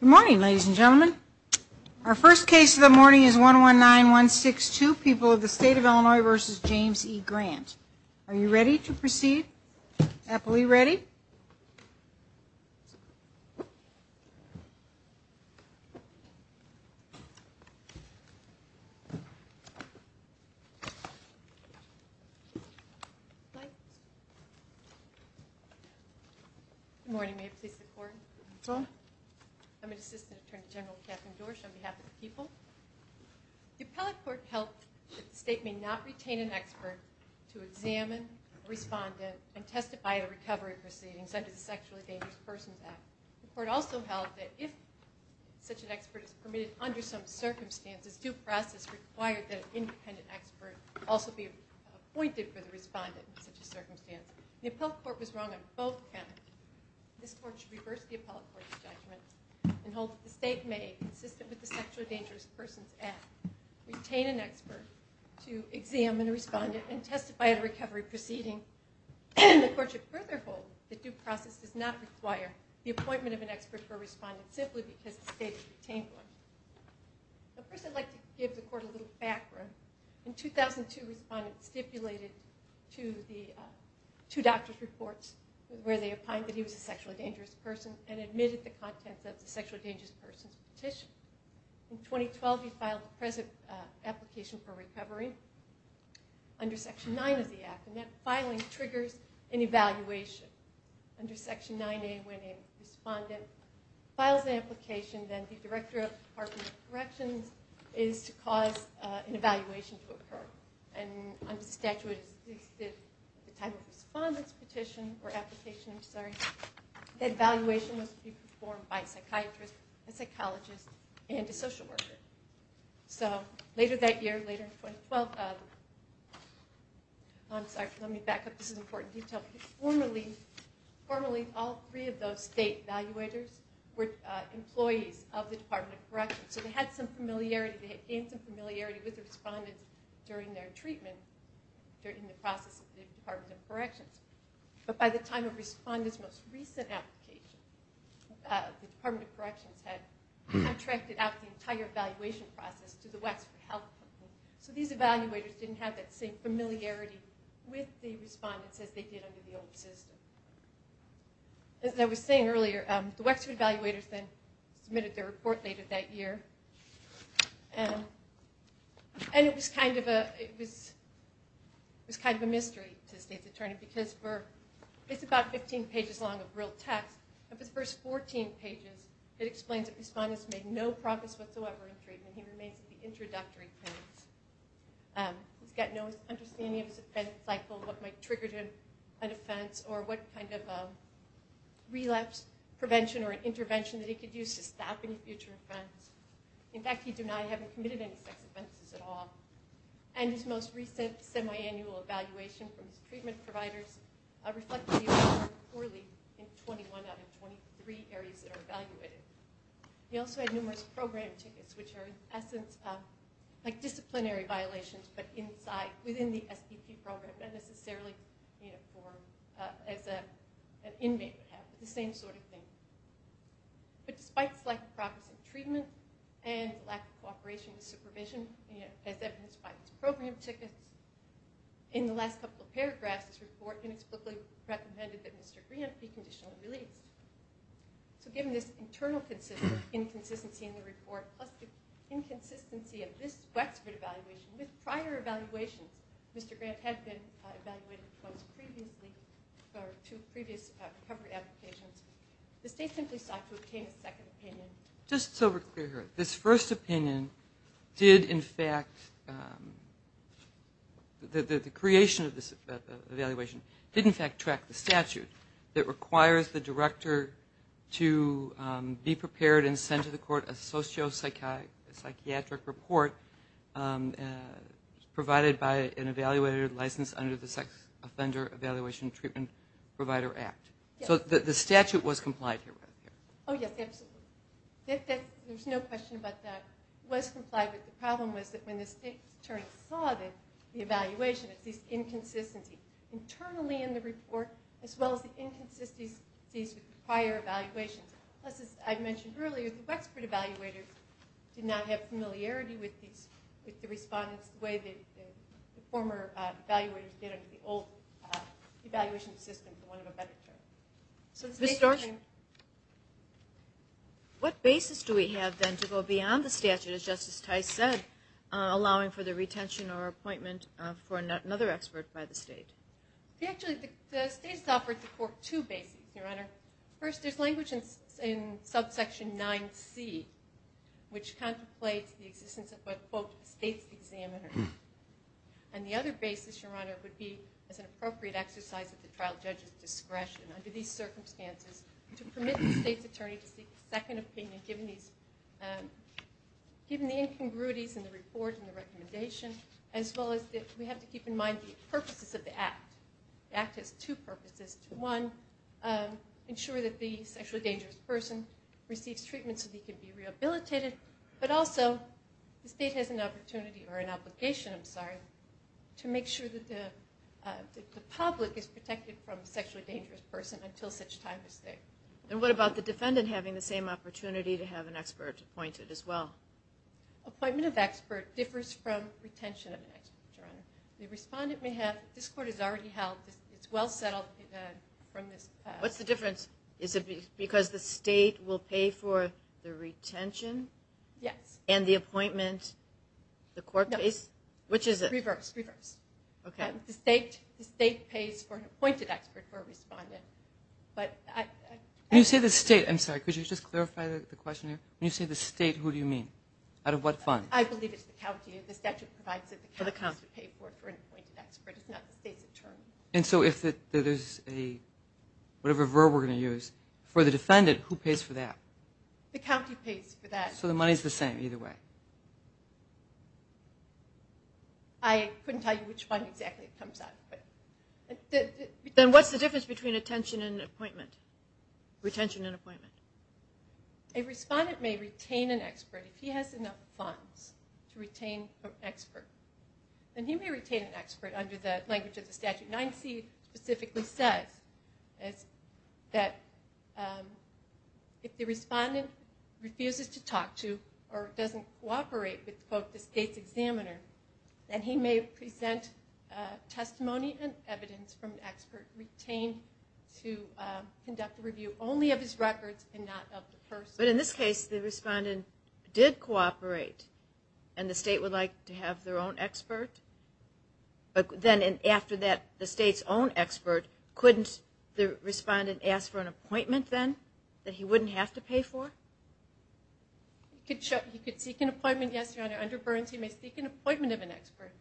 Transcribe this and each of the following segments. Good morning, ladies and gentlemen. Our first case of the morning is 119162, People of the State of Illinois v. James E. Grant. Are you ready to proceed? Appellee, ready? Good morning. May it please the court? So moved. I'm an assistant attorney general, Katherine Dorsch, on behalf of the people. The appellate court held that the state may not retain an expert to examine a respondent and testify at a recovery proceeding, such as the Sexually Dangerous Persons Act. The court also held that if such an expert is permitted under some circumstances, due process required that an independent expert also be appointed for the respondent in such a circumstance. The appellate court was wrong on both counts. This court should reverse the appellate court's judgment and hold that the state may, consistent with the Sexually Dangerous Persons Act, retain an expert to examine a respondent and testify at a recovery proceeding. The court should further hold that due process does not require the appointment of an expert for a respondent simply because the state has retained one. First, I'd like to give the court a little background. In 2002, respondents stipulated to the two doctor's reports where they opined that he was a sexually dangerous person and admitted the contents of the sexually dangerous person's petition. In 2012, he filed the present application for recovery. Under Section 9 of the Act, filing triggers an evaluation. Under Section 9A, when a respondent files an application, then the director of the Department of Corrections is to cause an evaluation to occur. Under the statute, at the time of the respondent's petition or application, that evaluation must be performed by a psychiatrist, a psychologist, and a social worker. So later that year, later in 2012, I'm sorry, let me back up. This is an important detail. Formerly, all three of those state evaluators were employees of the Department of Corrections. So they had some familiarity, they had gained some familiarity with the respondents during their treatment, during the process of the Department of Corrections. But by the time of the respondent's most recent application, the Department of Corrections had contracted out the entire evaluation process to the Wexford Health Company. So these evaluators didn't have that same familiarity with the respondents as they did under the old system. As I was saying earlier, the Wexford evaluators then submitted their report later that year. And it was kind of a mystery to the State's Attorney because it's about 15 pages long of real text. Of his first 14 pages, it explains that the respondent's made no progress whatsoever in treatment. He remains at the introductory phase. He's got no understanding of his offense cycle, what might trigger an offense, or what kind of relapse prevention or intervention that he could use to stop any future offense. In fact, he denied having committed any sex offenses at all. And his most recent semiannual evaluation from his treatment providers reflect that he performed poorly in 21 out of 23 areas that are evaluated. He also had numerous program tickets, which are in essence like disciplinary violations, but inside, within the SPP program, not necessarily as an inmate would have, but the same sort of thing. But despite his lack of progress in treatment and lack of cooperation and supervision, as evidenced by his program tickets, in the last couple of paragraphs, this report inexplicably recommended that Mr. Grant be conditionally released. So given this internal inconsistency in the report, plus the inconsistency of this Wexford evaluation with prior evaluations, Mr. Grant had been evaluated twice previously for two previous recovery applications, the state simply sought to obtain a second opinion. Just so we're clear here, this first opinion did in fact, the creation of this evaluation did in fact track the statute that requires the director to be prepared and send to the court a sociopsychiatric report provided by an evaluated license under the Sex Offender Evaluation Treatment Provider Act. So the statute was complied here. Oh, yes, absolutely. There's no question about that. It was complied, but the problem was that when the state attorney saw the evaluation, it's this inconsistency internally in the report, as well as the inconsistencies with prior evaluations. As I mentioned earlier, the Wexford evaluators did not have familiarity with the respondents the way the former evaluators did under the old evaluation system, the one of a better term. Ms. Storch? What basis do we have then to go beyond the statute, as Justice Tice said, allowing for the retention or appointment for another expert by the state? Actually, the state's offered the court two bases, Your Honor. First, there's language in subsection 9C, which contemplates the existence of a, quote, state's examiner. And the other basis, Your Honor, would be as an appropriate exercise of the trial judge's discretion under these circumstances to permit the state's attorney to seek a second opinion, given the incongruities in the report and the recommendation, as well as we have to keep in mind the purposes of the act. The act has two purposes. One, ensure that the sexually dangerous person receives treatment so that he can be rehabilitated. But also, the state has an opportunity, or an obligation, I'm sorry, to make sure that the public is protected from a sexually dangerous person until such time as there. And what about the defendant having the same opportunity to have an expert appointed as well? Appointment of expert differs from retention of an expert, Your Honor. The respondent may have, this court has already held, it's well settled from this past. What's the difference? Is it because the state will pay for the retention? Yes. And the appointment, the court pays? No. Which is it? Reverse, reverse. Okay. The state pays for an appointed expert for a respondent. When you say the state, I'm sorry, could you just clarify the question here? When you say the state, who do you mean? Out of what fund? I believe it's the county. The statute provides that the county has to pay for an appointed expert. It's not the state's turn. And so if there's a, whatever verb we're going to use, for the defendant, who pays for that? The county pays for that. So the money's the same either way? I couldn't tell you which one exactly it comes out with. Then what's the difference between retention and appointment? Retention and appointment. A respondent may retain an expert if he has enough funds to retain an expert. And he may retain an expert under the language of the statute. 9C specifically says that if the respondent refuses to talk to or doesn't cooperate with, quote, the state's examiner, then he may present testimony and evidence from an expert retained to conduct a review only of his records and not of the person. But in this case, the respondent did cooperate, and the state would like to have their own expert? But then after that, the state's own expert, couldn't the respondent ask for an appointment then that he wouldn't have to pay for? He could seek an appointment, yes, Your Honor. Under Burns, he may seek an appointment of an expert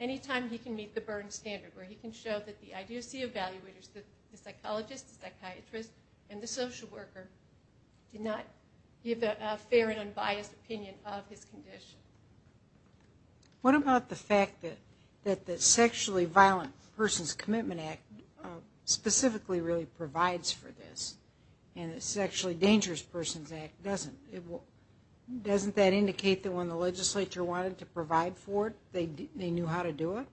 any time he can meet the Burns standard, where he can show that the IDOC evaluators, the psychologist, the psychiatrist, and the social worker did not give a fair and unbiased opinion of his condition. What about the fact that the Sexually Violent Persons Commitment Act specifically really provides for this, and the Sexually Dangerous Persons Act doesn't? Doesn't that indicate that when the legislature wanted to provide for it, they knew how to do it?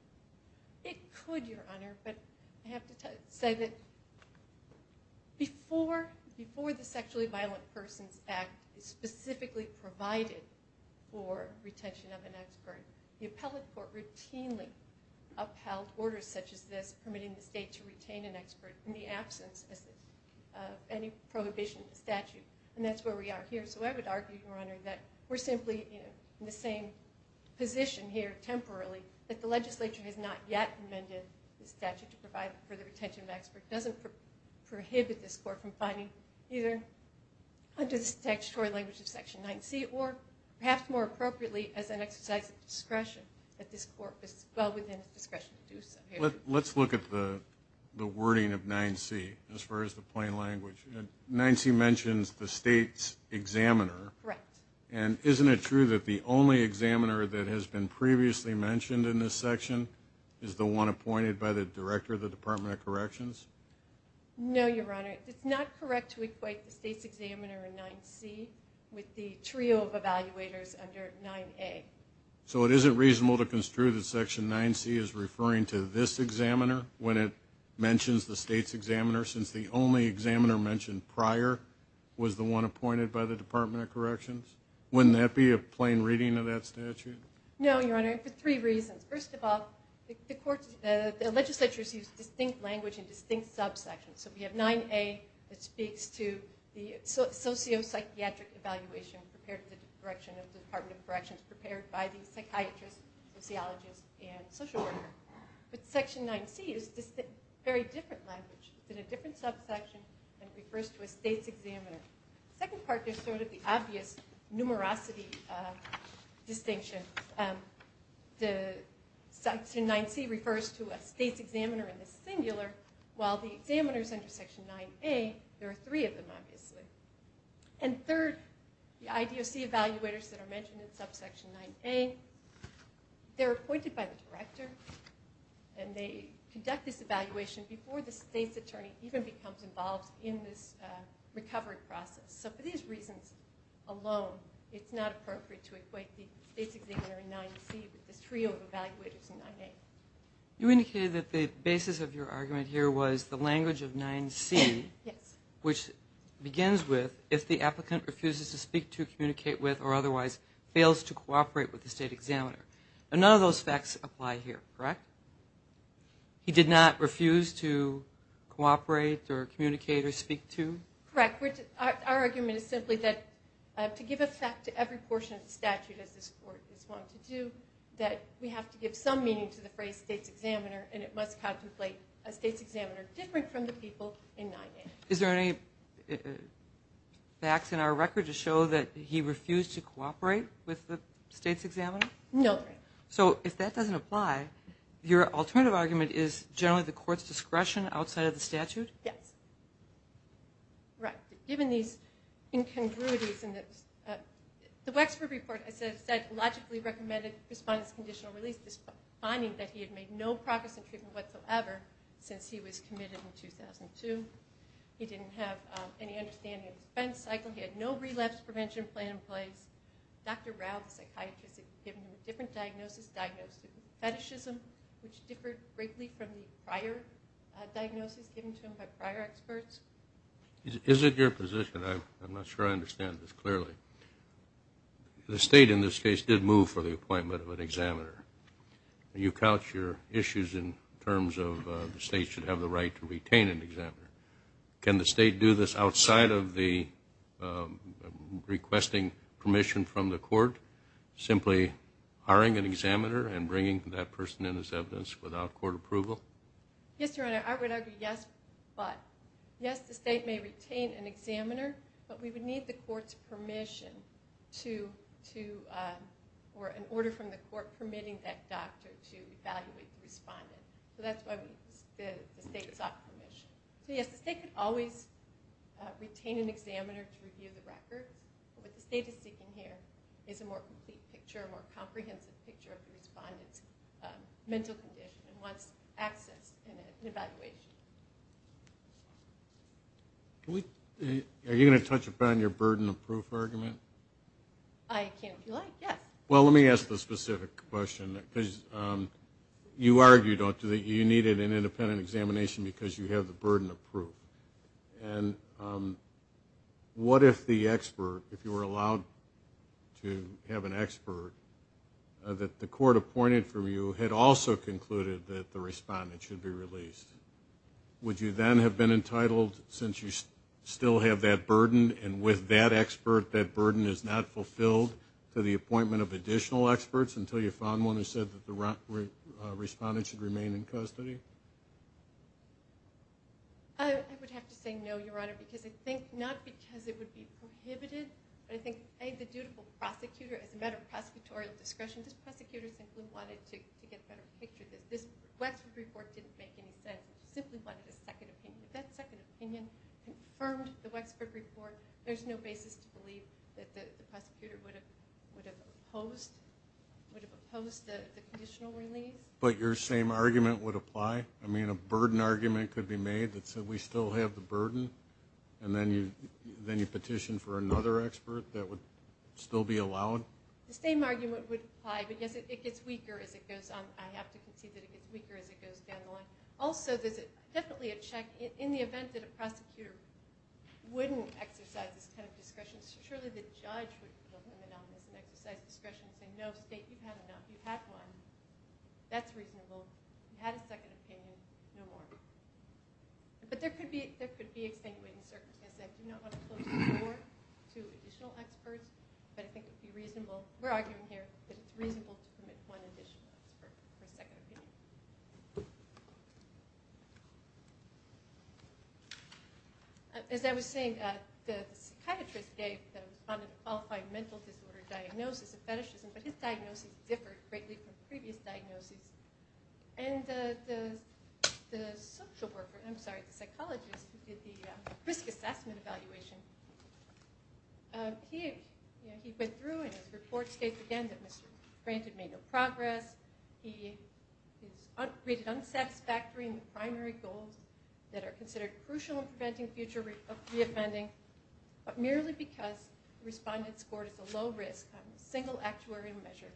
It could, Your Honor, but I have to say that before the Sexually Violent Persons Act specifically provided for retention of an expert, the appellate court routinely upheld orders such as this, permitting the state to retain an expert in the absence of any prohibition statute. And that's where we are here, so I would argue, Your Honor, that we're simply in the same position here, temporarily, that the legislature has not yet amended the statute to provide for the retention of an expert. It doesn't prohibit this court from finding either under the statutory language of Section 9c, or perhaps more appropriately, as an exercise of discretion, that this court was well within its discretion to do so. Let's look at the wording of 9c as far as the plain language. 9c mentions the state's examiner. Correct. And isn't it true that the only examiner that has been previously mentioned in this section is the one appointed by the director of the Department of Corrections? No, Your Honor. It's not correct to equate the state's examiner in 9c with the trio of evaluators under 9a. So it isn't reasonable to construe that Section 9c is referring to this examiner when it mentions the state's examiner, since the only examiner mentioned prior was the one appointed by the Department of Corrections? Wouldn't that be a plain reading of that statute? No, Your Honor, for three reasons. First of all, the legislature has used distinct language in distinct subsections. So we have 9a that speaks to the sociopsychiatric evaluation prepared by the Department of Corrections, prepared by the psychiatrist, sociologist, and social worker. But Section 9c is a very different language. It's in a different subsection, and it refers to a state's examiner. The second part is sort of the obvious numerosity distinction. Section 9c refers to a state's examiner in the singular, while the examiners under Section 9a, there are three of them, obviously. And third, the IDOC evaluators that are mentioned in Subsection 9a, they're appointed by the director, and they conduct this evaluation before the state's attorney even becomes involved in this recovery process. So for these reasons alone, it's not appropriate to equate the state's examiner in 9c with this trio of evaluators in 9a. You indicated that the basis of your argument here was the language of 9c, which begins with, if the applicant refuses to speak to, communicate with, or otherwise fails to cooperate with the state examiner. And none of those facts apply here, correct? He did not refuse to cooperate or communicate or speak to? Correct. Our argument is simply that to give effect to every portion of the statute, as this Court has wanted to do, that we have to give some meaning to the phrase state's examiner, and it must contemplate a state's examiner different from the people in 9a. Is there any facts in our record to show that he refused to cooperate with the state's examiner? No. So if that doesn't apply, your alternative argument is generally the Court's discretion outside of the statute? Yes. Right. Given these incongruities, the Wexford report, as I said, logically recommended response to conditional release, finding that he had made no progress in treatment whatsoever since he was committed in 2002. He didn't have any understanding of the defense cycle. He had no relapse prevention plan in place. Dr. Rao, the psychiatrist, had given him a different diagnosis, diagnosed it with fetishism, which differed greatly from the prior diagnosis given to him by prior experts. Is it your position? I'm not sure I understand this clearly. The state, in this case, did move for the appointment of an examiner. You couch your issues in terms of the state should have the right to retain an examiner. Can the state do this outside of the requesting permission from the Court, simply hiring an examiner and bringing that person in as evidence without Court approval? Yes, Your Honor, I would argue yes. But, yes, the state may retain an examiner, but we would need the Court's permission or an order from the Court permitting that doctor to evaluate the respondent. So that's why the state sought permission. So, yes, the state could always retain an examiner to review the records. What the state is seeking here is a more complete picture, a more comprehensive picture of the respondent's mental condition and wants access in an evaluation. Are you going to touch upon your burden of proof argument? I can, if you like, yes. Well, let me ask the specific question, because you argued that you needed an independent examination because you have the burden of proof. And what if the expert, if you were allowed to have an expert, that the Court appointed for you had also concluded that the respondent should be released? Would you then have been entitled, since you still have that burden, and with that expert, that burden is not fulfilled, to the appointment of additional experts until you found one who said that the respondent should remain in custody? I would have to say no, Your Honor, because I think not because it would be prohibited, but I think, A, the dutiful prosecutor, as a matter of prosecutorial discretion, this prosecutor simply wanted to get a better picture. This Wexford report didn't make any sense. He simply wanted a second opinion. If that second opinion confirmed the Wexford report, there's no basis to believe that the prosecutor would have opposed the conditional release. But your same argument would apply? I mean, a burden argument could be made that said, we still have the burden, and then you petition for another expert that would still be allowed? The same argument would apply, but, yes, it gets weaker as it goes on. I have to concede that it gets weaker as it goes down the line. Also, there's definitely a check. In the event that a prosecutor wouldn't exercise this kind of discretion, surely the judge would put a limit on this and exercise discretion and say, no, state, you've had enough. You've had one. That's reasonable. You've had a second opinion. No more. But there could be extenuating circumstances. I do not want to close the door to additional experts, but I think it would be reasonable. We're arguing here that it's reasonable to permit one additional expert for a second opinion. As I was saying, the psychiatrist gave the respondent a qualified mental disorder diagnosis, a fetishism, but his diagnosis differed greatly from previous diagnoses. And the social worker, I'm sorry, the psychologist who did the risk assessment evaluation, he went through and his report states, again, that Mr. Pranted made no progress. He is rated unsatisfactory in the primary goals that are considered crucial in preventing future reoffending, but merely because the respondent scored as a low risk on a single actuarial measure,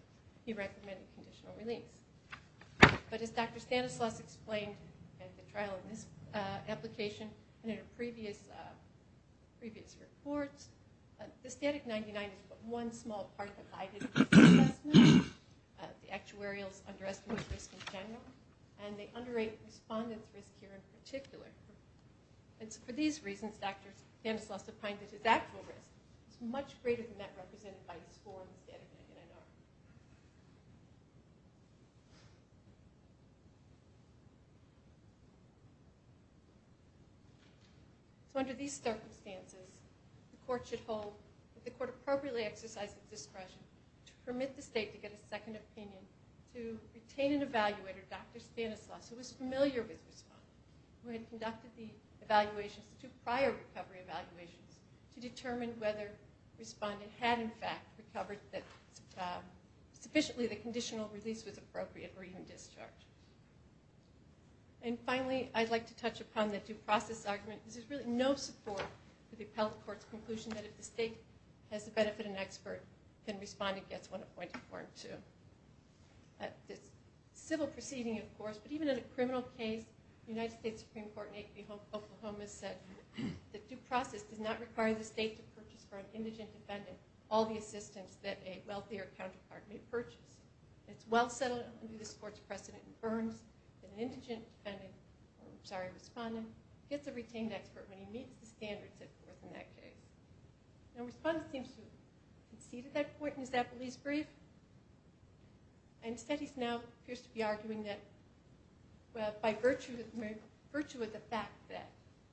he recommended conditional release. But as Dr. Stanislaus explained in the trial in this application and in previous reports, the static 99 is but one small part of the guided risk assessment, the actuarial's underestimated risk in general, and the underrated respondent's risk here in particular. And so for these reasons, Dr. Stanislaus defined it as actual risk. It's much greater than that represented by his score in the static 99R. So under these circumstances, the court should hold that the court appropriately exercised its discretion to permit the state to get a second opinion to retain an evaluator, Dr. Stanislaus, who was familiar with the respondent, who had conducted the evaluations, the two prior recovery evaluations, to determine whether the respondent had, in fact, recovered the risk of the actuarial. Sufficiently, the conditional release was appropriate, or even discharge. And finally, I'd like to touch upon the due process argument, because there's really no support for the appellate court's conclusion that if the state has the benefit of an expert, then respondent gets one appointed for him too. It's a civil proceeding, of course, but even in a criminal case, the United States Supreme Court in 8th and Oklahoma said that due process does not require the state to purchase for an indigent defendant all the assistance that a wealthier counterpart may purchase. It's well settled under this court's precedent that Burns, an indigent defendant, I'm sorry, respondent, gets a retained expert when he meets the standards at 4th and that case. Now respondent seems to have conceded that point, and is that belief brief? And studies now appears to be arguing that, well, by virtue of the fact that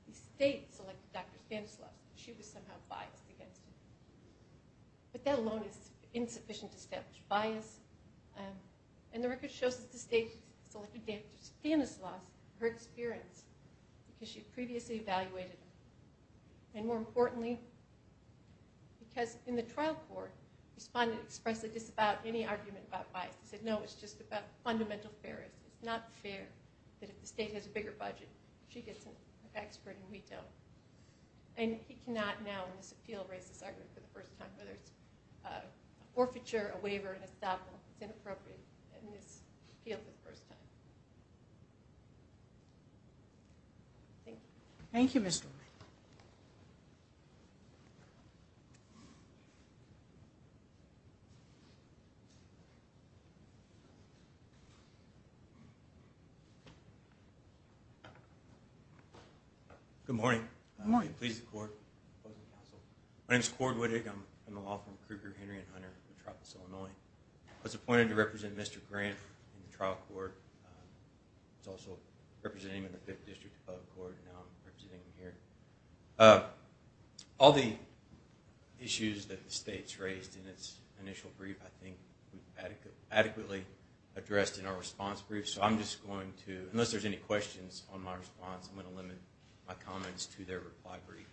the state selected Dr. Stanislaus, she was somehow biased against him. But that alone is insufficient to establish bias, and the record shows that the state selected Dr. Stanislaus, her experience, because she previously evaluated him. And more importantly, because in the trial court, respondent expressed a disavow any argument about bias. He said, no, it's just about fundamental fairness. It's not fair that if the state has a bigger budget, she gets an expert and we don't. And he cannot now in this appeal raise this argument for the first time, whether it's an orphiture, a waiver, an estoppel. It's inappropriate in this appeal for the first time. Thank you. Thank you, Ms. Drummond. Thank you. Good morning. Good morning. Pleased to court. My name is Cord Wittig. I'm from the law firm Kruger, Henry & Hunter in Tropas, Illinois. I was appointed to represent Mr. Grant in the trial court. I was also representing him in the 5th District above court, and now I'm representing him here. All the issues that the state's raised in its initial brief, I think adequately addressed in our response brief. So I'm just going to, unless there's any questions on my response, I'm going to limit my comments to their reply brief.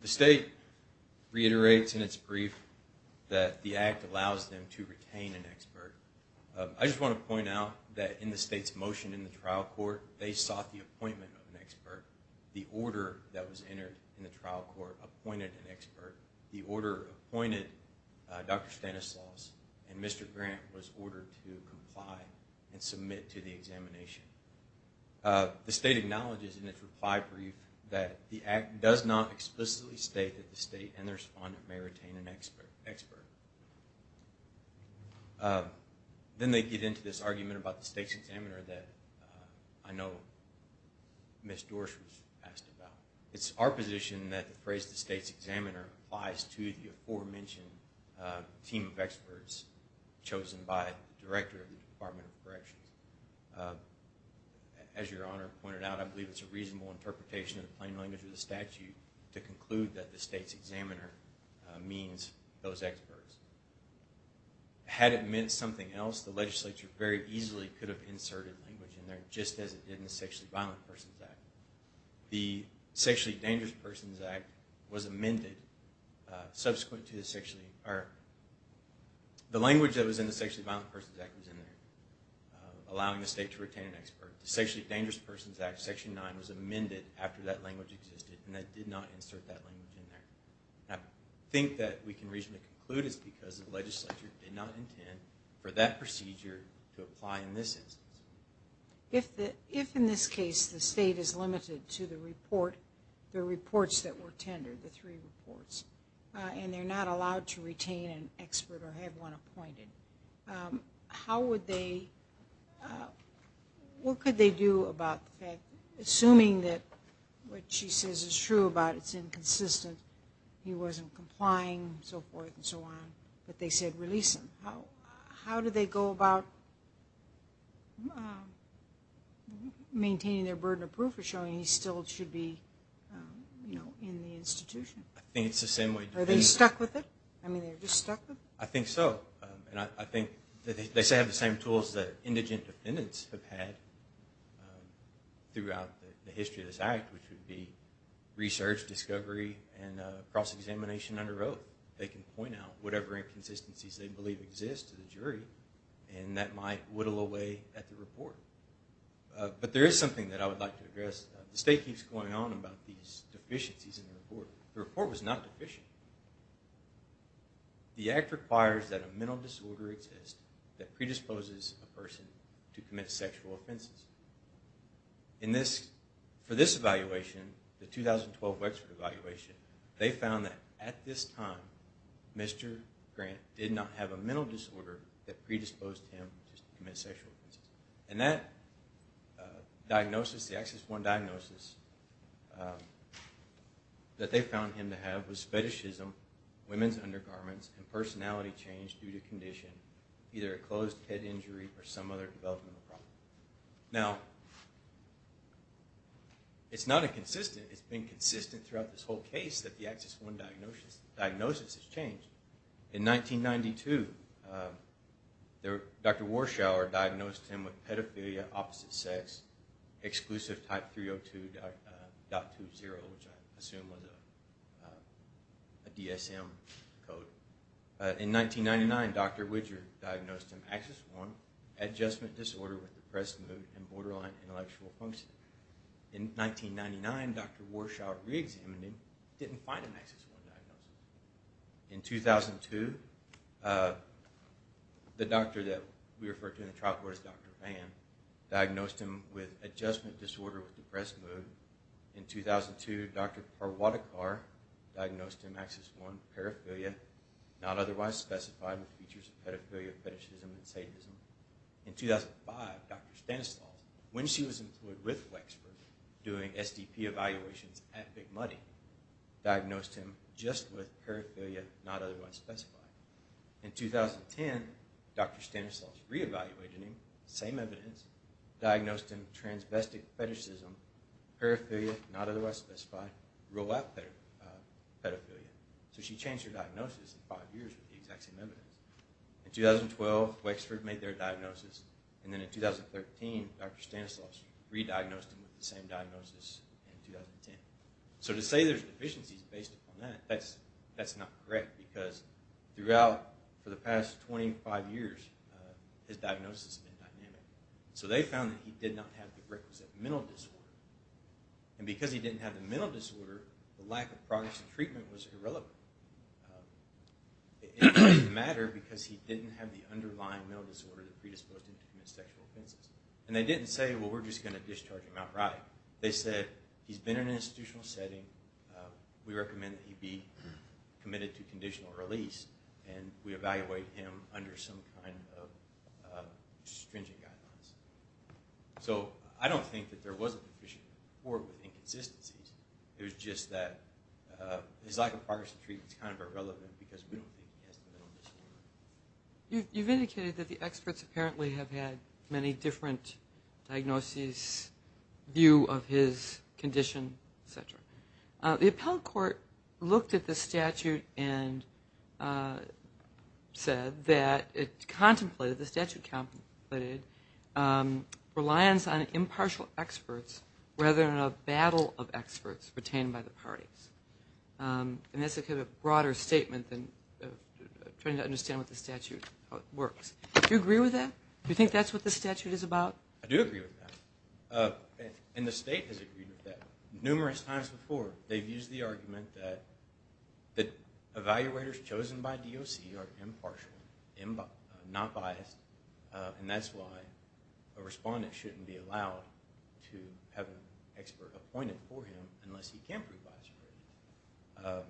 The state reiterates in its brief that the act allows them to retain an expert. I just want to point out that in the state's motion in the trial court, they sought the appointment of an expert. The order that was entered in the trial court appointed an expert. The order appointed Dr. Stanislaus, and Mr. Grant was ordered to comply and submit to the examination. The state acknowledges in its reply brief that the act does not explicitly state that the state and their respondent may retain an expert. Then they get into this argument about the state's examiner that I know Ms. Dorsch was asked about. It's our position that the phrase the state's examiner applies to the aforementioned team of experts chosen by the director of the Department of Corrections. As Your Honor pointed out, I believe it's a reasonable interpretation in the plain language of the statute to conclude that the state's examiner means those experts. Had it meant something else, the legislature very easily could have inserted language in there just as it did in the Sexually Violent Persons Act. The Sexually Dangerous Persons Act was amended subsequent to the sexually... The language that was in the Sexually Violent Persons Act was in there, allowing the state to retain an expert. The Sexually Dangerous Persons Act, Section 9, was amended after that language existed, and it did not insert that language in there. I think that we can reasonably conclude it's because the legislature did not intend for that procedure to apply in this instance. If in this case the state is limited to the report, the reports that were tendered, the three reports, and they're not allowed to retain an expert or have one appointed, how would they... What could they do about the fact, assuming that what she says is true about it's inconsistent, he wasn't complying and so forth and so on, but they said release him, how do they go about maintaining their burden of proof or showing he still should be in the institution? I think it's the same way. Are they stuck with it? I mean, they're just stuck with it? I think so. I think they have the same tools that indigent defendants have had throughout the history of this act, which would be research, discovery, and cross-examination under oath. They can point out whatever inconsistencies they believe exist to the jury, and that might whittle away at the report. But there is something that I would like to address. The state keeps going on about these deficiencies in the report. The report was not deficient. The act requires that a mental disorder exist that predisposes a person to commit sexual offenses. For this evaluation, the 2012 Wexford evaluation, they found that at this time Mr. Grant did not have a mental disorder that predisposed him to commit sexual offenses. And that diagnosis, the Access 1 diagnosis, that they found him to have was fetishism, women's undergarments, and personality change due to condition, either a closed head injury or some other developmental problem. Now, it's not inconsistent. It's been consistent throughout this whole case that the Access 1 diagnosis has changed. In 1992, Dr. Warschauer diagnosed him with pedophilia opposite sex, exclusive type 302.20, which I assume was a DSM code. In 1999, Dr. Widger diagnosed him Access 1, adjustment disorder with depressed mood and borderline intellectual function. In 1999, Dr. Warschauer reexamined him, didn't find an Access 1 diagnosis. In 2002, the doctor that we refer to in the trial court as Dr. Van diagnosed him with adjustment disorder with depressed mood. In 2002, Dr. Parwatikar diagnosed him Access 1, paraphilia, not otherwise specified, with features of pedophilia, fetishism, and satanism. In 2005, Dr. Stanislaus, when she was employed with Wexford doing SDP evaluations at Big Money, diagnosed him just with paraphilia, not otherwise specified. In 2010, Dr. Stanislaus re-evaluated him, same evidence, diagnosed him transvestic fetishism, paraphilia, not otherwise specified, real life pedophilia. So she changed her diagnosis in five years with the exact same evidence. In 2012, Wexford made their diagnosis, and then in 2013, Dr. Stanislaus re-diagnosed him with the same diagnosis in 2010. So to say there's deficiencies based upon that, that's not correct, because throughout, for the past 25 years, his diagnosis has been dynamic. So they found that he did not have the requisite mental disorder. And because he didn't have the mental disorder, the lack of progress in treatment was irrelevant. It doesn't matter because he didn't have the underlying mental disorder that predisposed him to commit sexual offenses. And they didn't say, well, we're just going to discharge him outright. They said, he's been in an institutional setting, we recommend that he be committed to conditional release, and we evaluate him under some kind of stringent guidelines. So I don't think that there was a deficiency or inconsistencies. It was just that his lack of progress in treatment is kind of irrelevant because we don't think he has the mental disorder. You've indicated that the experts apparently have had many different diagnoses, view of his condition, et cetera. The appellate court looked at the statute and said that it contemplated, the statute contemplated reliance on impartial experts rather than a battle of experts retained by the parties. And that's kind of a broader statement than trying to understand what the statute works. Do you agree with that? Do you think that's what the statute is about? I do agree with that. And the state has agreed with that numerous times before. They've used the argument that evaluators chosen by DOC are impartial, not biased, and that's why a respondent shouldn't be allowed to have an expert appointed for him unless he can prove biased.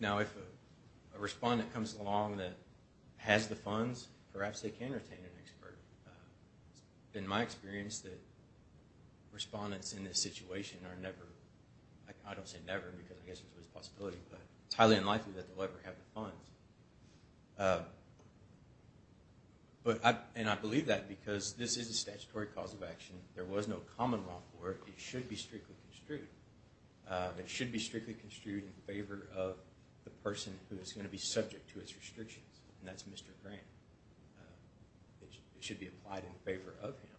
Now, if a respondent comes along that has the funds, perhaps they can retain an expert. In my experience, the respondents in this situation are never, I don't say never because I guess it's a possibility, but it's highly unlikely that they'll ever have the funds. And I believe that because this is a statutory cause of action. There was no common law for it. It should be strictly construed. It should be strictly construed in favor of the person who is going to be subject to its restrictions, and that's Mr. Grant. It should be applied in favor of him.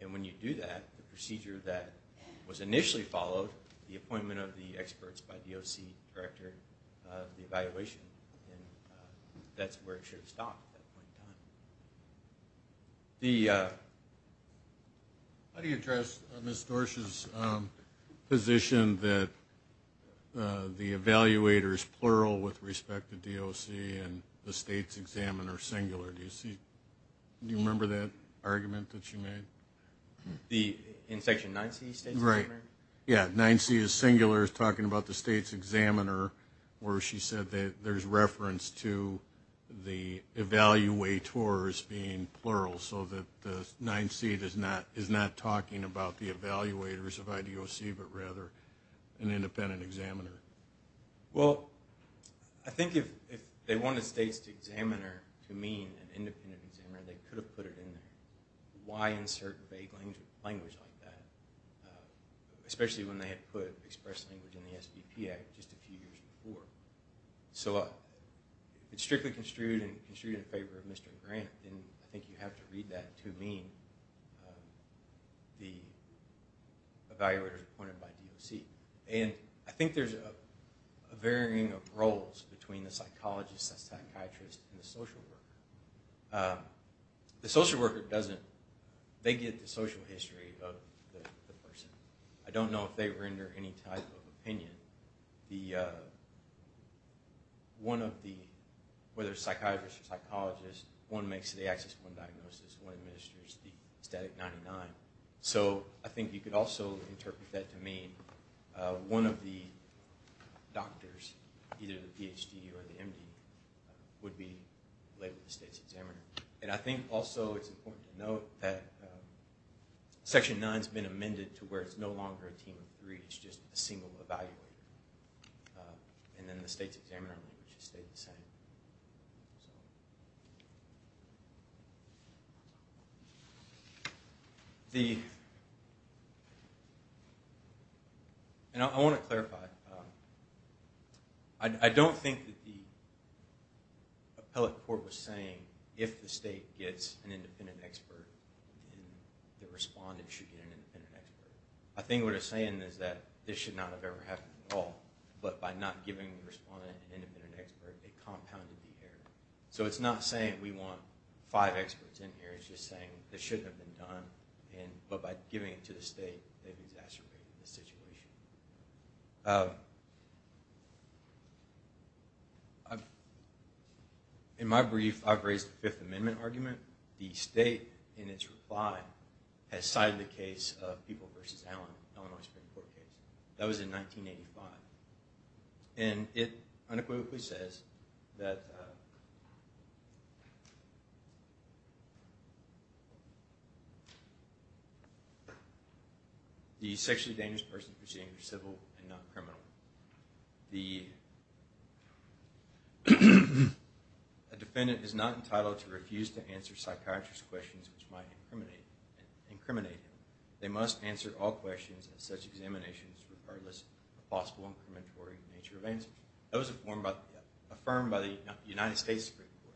And when you do that, the procedure that was initially followed, the appointment of the experts by DOC, director of the evaluation, and that's where it should have stopped at that point in time. How do you address Ms. Dorsch's position that the evaluators, plural, with respect to DOC and the states examiner singular? Do you remember that argument that she made? In Section 9C? Right. Yeah, 9C is singular. It's talking about the states examiner where she said that there's reference to the evaluators being plural so that 9C is not talking about the evaluators of IDOC, but rather an independent examiner. Well, I think if they wanted states examiner to mean an independent examiner, they could have put it in there. Why insert vague language like that, especially when they had put express language in the SBP Act just a few years before? So it's strictly construed in favor of Mr. Grant, and I think you have to read that to mean the evaluators appointed by DOC. And I think there's a varying of roles between the psychologist, the psychiatrist, and the social worker. The social worker doesn't – they get the social history of the person. The one of the – whether it's psychiatrist or psychologist, one makes the axis one diagnosis, one administers the static 99. So I think you could also interpret that to mean one of the doctors, either the PhD or the MD, would be labeled the states examiner. And I think also it's important to note that Section 9 has been amended to where it's no longer a team of three. It's just a single evaluator. And then the states examiner language has stayed the same. And I want to clarify. I don't think that the appellate court was saying if the state gets an independent expert, then the respondent should get an independent expert. I think what it's saying is that this should not have ever happened at all. But by not giving the respondent an independent expert, it compounded the error. So it's not saying we want five experts in here. It's just saying this shouldn't have been done. But by giving it to the state, they've exacerbated the situation. In my brief, I've raised the Fifth Amendment argument. The state, in its reply, has cited the case of People v. Allen, the Illinois Supreme Court case. That was in 1985. And it unequivocally says that the sexually dangerous person is perceived as civil and not criminal. The defendant is not entitled to refuse to answer psychiatrist questions which might incriminate him. They must answer all questions in such examinations regardless of the possible incriminatory nature of answers. That was affirmed by the United States Supreme Court.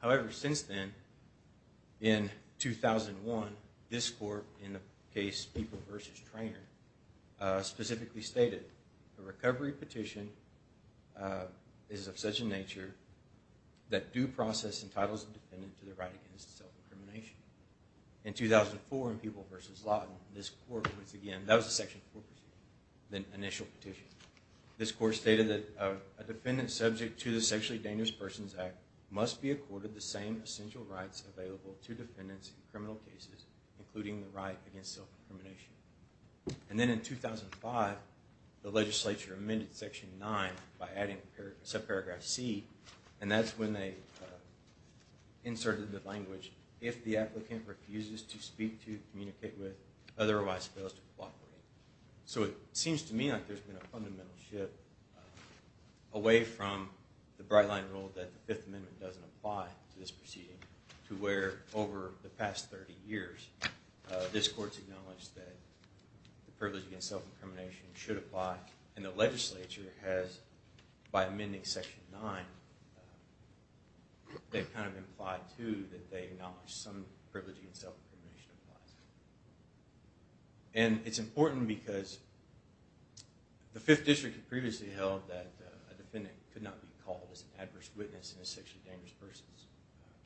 However, since then, in 2001, this court, in the case People v. Traynor, specifically stated the recovery petition is of such a nature that due process entitles the defendant to the right against self-incrimination. In 2004, in People v. Lawton, this court once again, that was a Section 4 procedure, the initial petition. This court stated that a defendant subject to the Sexually Dangerous Persons Act must be accorded the same essential rights available to defendants in criminal cases, including the right against self-incrimination. And then in 2005, the legislature amended Section 9 by adding subparagraph C, and that's when they inserted the language, if the applicant refuses to speak to, communicate with, otherwise fails to cooperate. So it seems to me like there's been a fundamental shift away from the bright-line rule that the Fifth Amendment doesn't apply to this proceeding to where, over the past 30 years, this court's acknowledged that the privilege against self-incrimination should apply, and the legislature has, by amending Section 9, they've kind of implied, too, that they acknowledge some privilege against self-incrimination applies. And it's important because the Fifth District had previously held that a defendant could not be called as an adverse witness in a sexually dangerous person's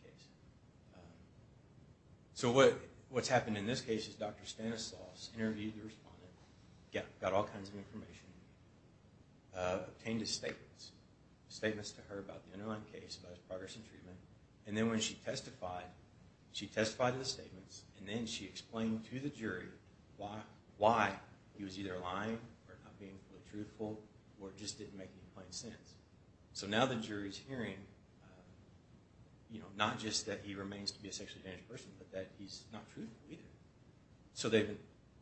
case. So what's happened in this case is Dr. Stanislaus interviewed the respondent, got all kinds of information, obtained his statements, statements to her about the underlying case, about his progress in treatment, and then when she testified, she testified to the statements, and then she explained to the jury why he was either lying or not being fully truthful, or just didn't make any plain sense. So now the jury's hearing, you know, not just that he remains to be a sexually dangerous person, but that he's not truthful either. So they've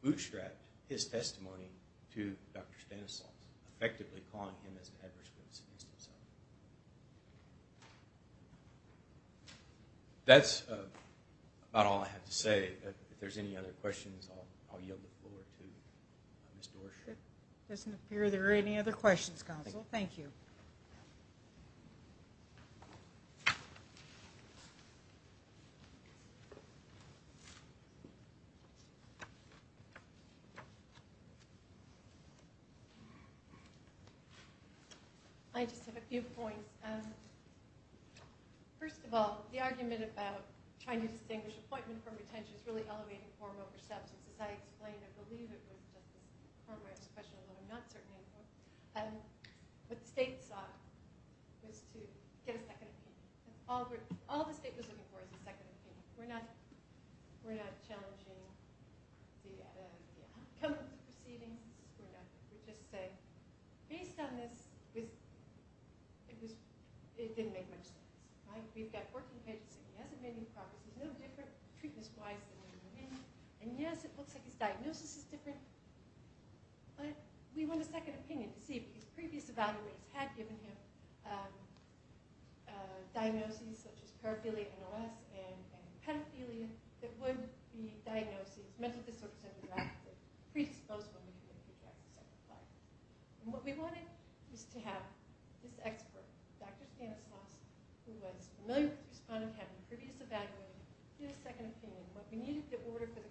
bootstrapped his testimony to Dr. Stanislaus, effectively calling him as an adverse witness against himself. That's about all I have to say. If there's any other questions, I'll yield the floor to Ms. Doerscher. It doesn't appear there are any other questions, counsel. Thank you. I just have a few points. First of all, the argument about trying to distinguish appointment from retention which is really elevating form over substance. As I explained, I believe it was just a form-wise question, although I'm not certain it was. What the state sought was to get a second opinion. All the state was looking for was a second opinion. We're not challenging the outcome of the proceedings. We're just saying, based on this, it didn't make much sense. We've got working patients, and he hasn't made any progress. He's no different, treatment-wise, than he would have been. And yes, it looks like his diagnosis is different, but we want a second opinion to see, because previous evaluators had given him diagnoses such as paraphernalia, NLS, and pedophilia that would be diagnoses, mental disorders, and predisposed women that would be diagnosed as such. What we wanted was to have this expert, Dr. Stanislaus, who was familiar with the respondent having a previous evaluation, get a second opinion. What we needed was an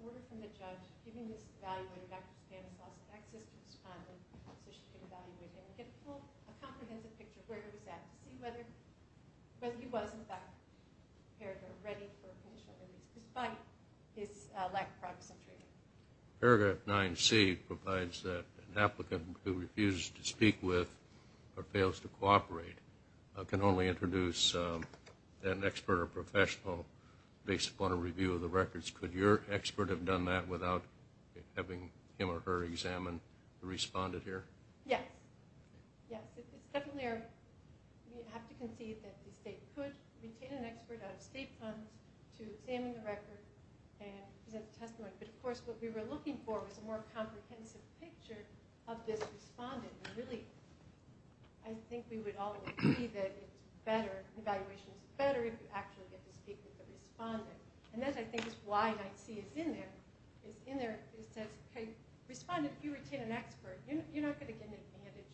order from the judge giving this evaluator, Dr. Stanislaus, access to the respondent so she could evaluate him and get a comprehensive picture of where he was at, to see whether he was, in fact, prepared or ready for initial interviews, despite his lack of progress in treatment. Paragraph 9C provides that an applicant who refuses to speak with or fails to cooperate can only introduce an expert or professional based upon a review of the records. Could your expert have done that without having him or her examine the respondent here? Yes. Yes, it's definitely our – we have to concede that the state could retain an expert out of state funds to examine the record and present a testimony. But, of course, what we were looking for was a more comprehensive picture of this respondent. And, really, I think we would all agree that it's better, the evaluation is better if you actually get to speak with the respondent. And that, I think, is why 9C is in there. It's in there. It says, okay, respondent, you retain an expert. You're not going to get an advantage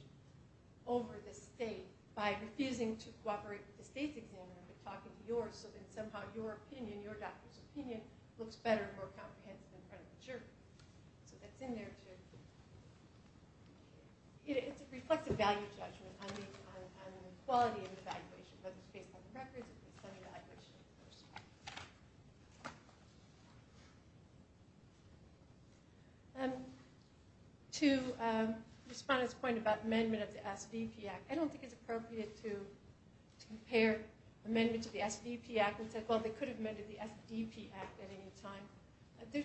over the state by refusing to cooperate with the state's examiner but talking to yours so that somehow your opinion, your doctor's opinion, looks better and more comprehensive in front of the jury. So that's in there too. It reflects a value judgment on the quality of the evaluation, whether it's based on records or based on evaluation. To respond to this point about amendment of the SBP Act, I don't think it's appropriate to compare amendments of the SBP Act and say, well, they could have amended the SDP Act at any time. There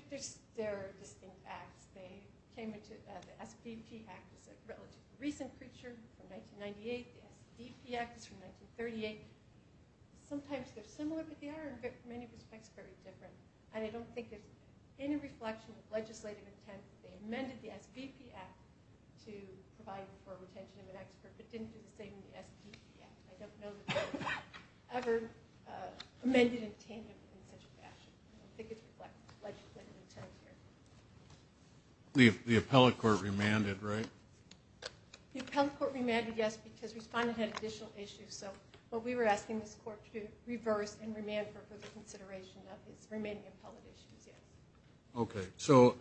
are distinct acts. The SBP Act is a relatively recent creature from 1998. The SDP Act is from 1938. Sometimes they're similar, but they are, in many respects, very different. And I don't think there's any reflection of legislative intent that they amended the SBP Act to provide for retention of an expert but didn't do the same in the SDP Act. I don't know that they were ever amended in tandem in such a fashion. I don't think it reflects legislative intent here. The appellate court remanded, right? The appellate court remanded, yes, because respondent had additional issues. So what we were asking this court to do, reverse and remand for further consideration of his remaining appellate issues, yes. Okay. So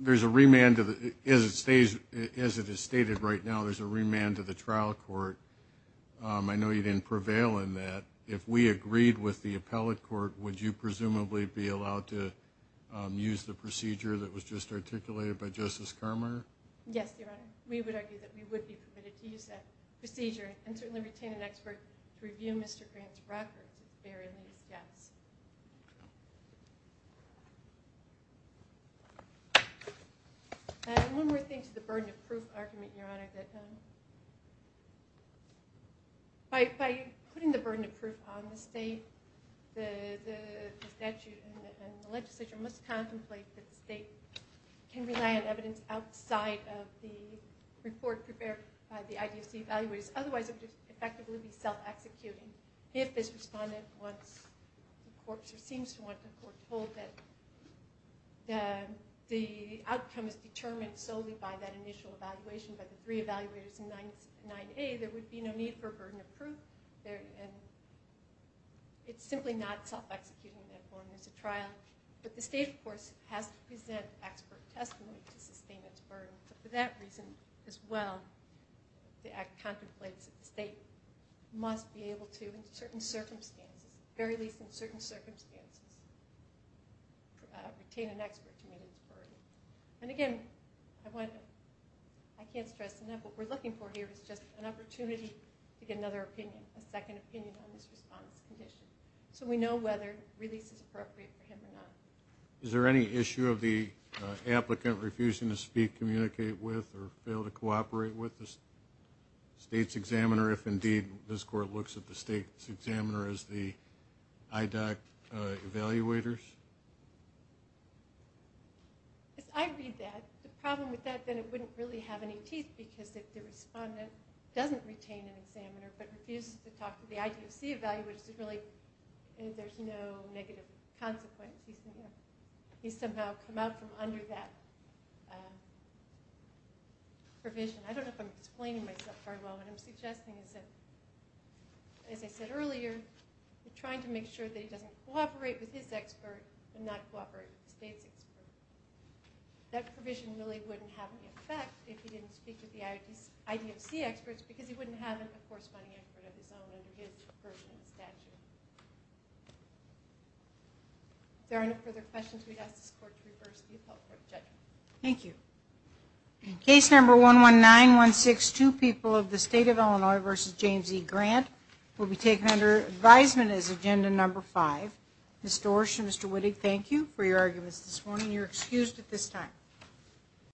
there's a remand, as it is stated right now, there's a remand to the trial court. I know you didn't prevail in that. If we agreed with the appellate court, would you presumably be allowed to use the procedure that was just articulated by Justice Carminer? Yes, Your Honor. We would argue that we would be permitted to use that procedure and certainly retain an expert to review Mr. Grant's record to bear in these gaps. And one more thing to the burden of proof argument, Your Honor, that by putting the burden of proof on the state, the statute and the legislature must contemplate that the state can rely on evidence outside of the report prepared by the IDFC evaluators, otherwise it would just effectively be self-executing. If this respondent wants or seems to want to foretold that the outcome is determined solely by that initial evaluation by the three evaluators in 9A, there would be no need for burden of proof. It's simply not self-executing in that form as a trial. But the state, of course, has to present expert testimony to sustain its burden. For that reason as well, the act contemplates that the state must be able to, in certain circumstances, very least in certain circumstances, retain an expert to meet its burden. And again, I can't stress enough what we're looking for here is just an opportunity to get another opinion, a second opinion on this respondent's condition, so we know whether release is appropriate for him or not. Is there any issue of the applicant refusing to speak, communicate with, or fail to cooperate with the state's examiner if, indeed, this court looks at the state's examiner as the IDOC evaluators? If I read that, the problem with that, then it wouldn't really have any teeth, because if the respondent doesn't retain an examiner but refuses to talk to the IDFC evaluators, there's no negative consequence. He's somehow come out from under that provision. I don't know if I'm explaining myself very well. What I'm suggesting is that, as I said earlier, we're trying to make sure that he doesn't cooperate with his expert and not cooperate with the state's expert. That provision really wouldn't have any effect if he didn't speak to the IDFC experts, because he wouldn't have a corresponding expert of his own under his version of the statute. If there are no further questions, we'd ask this court to reverse the appellate court judgment. Thank you. Case No. 11916, two people of the state of Illinois v. James E. Grant, will be taken under advisement as Agenda No. 5. Ms. Doersche and Mr. Wittig, thank you for your arguments this morning. You're excused at this time.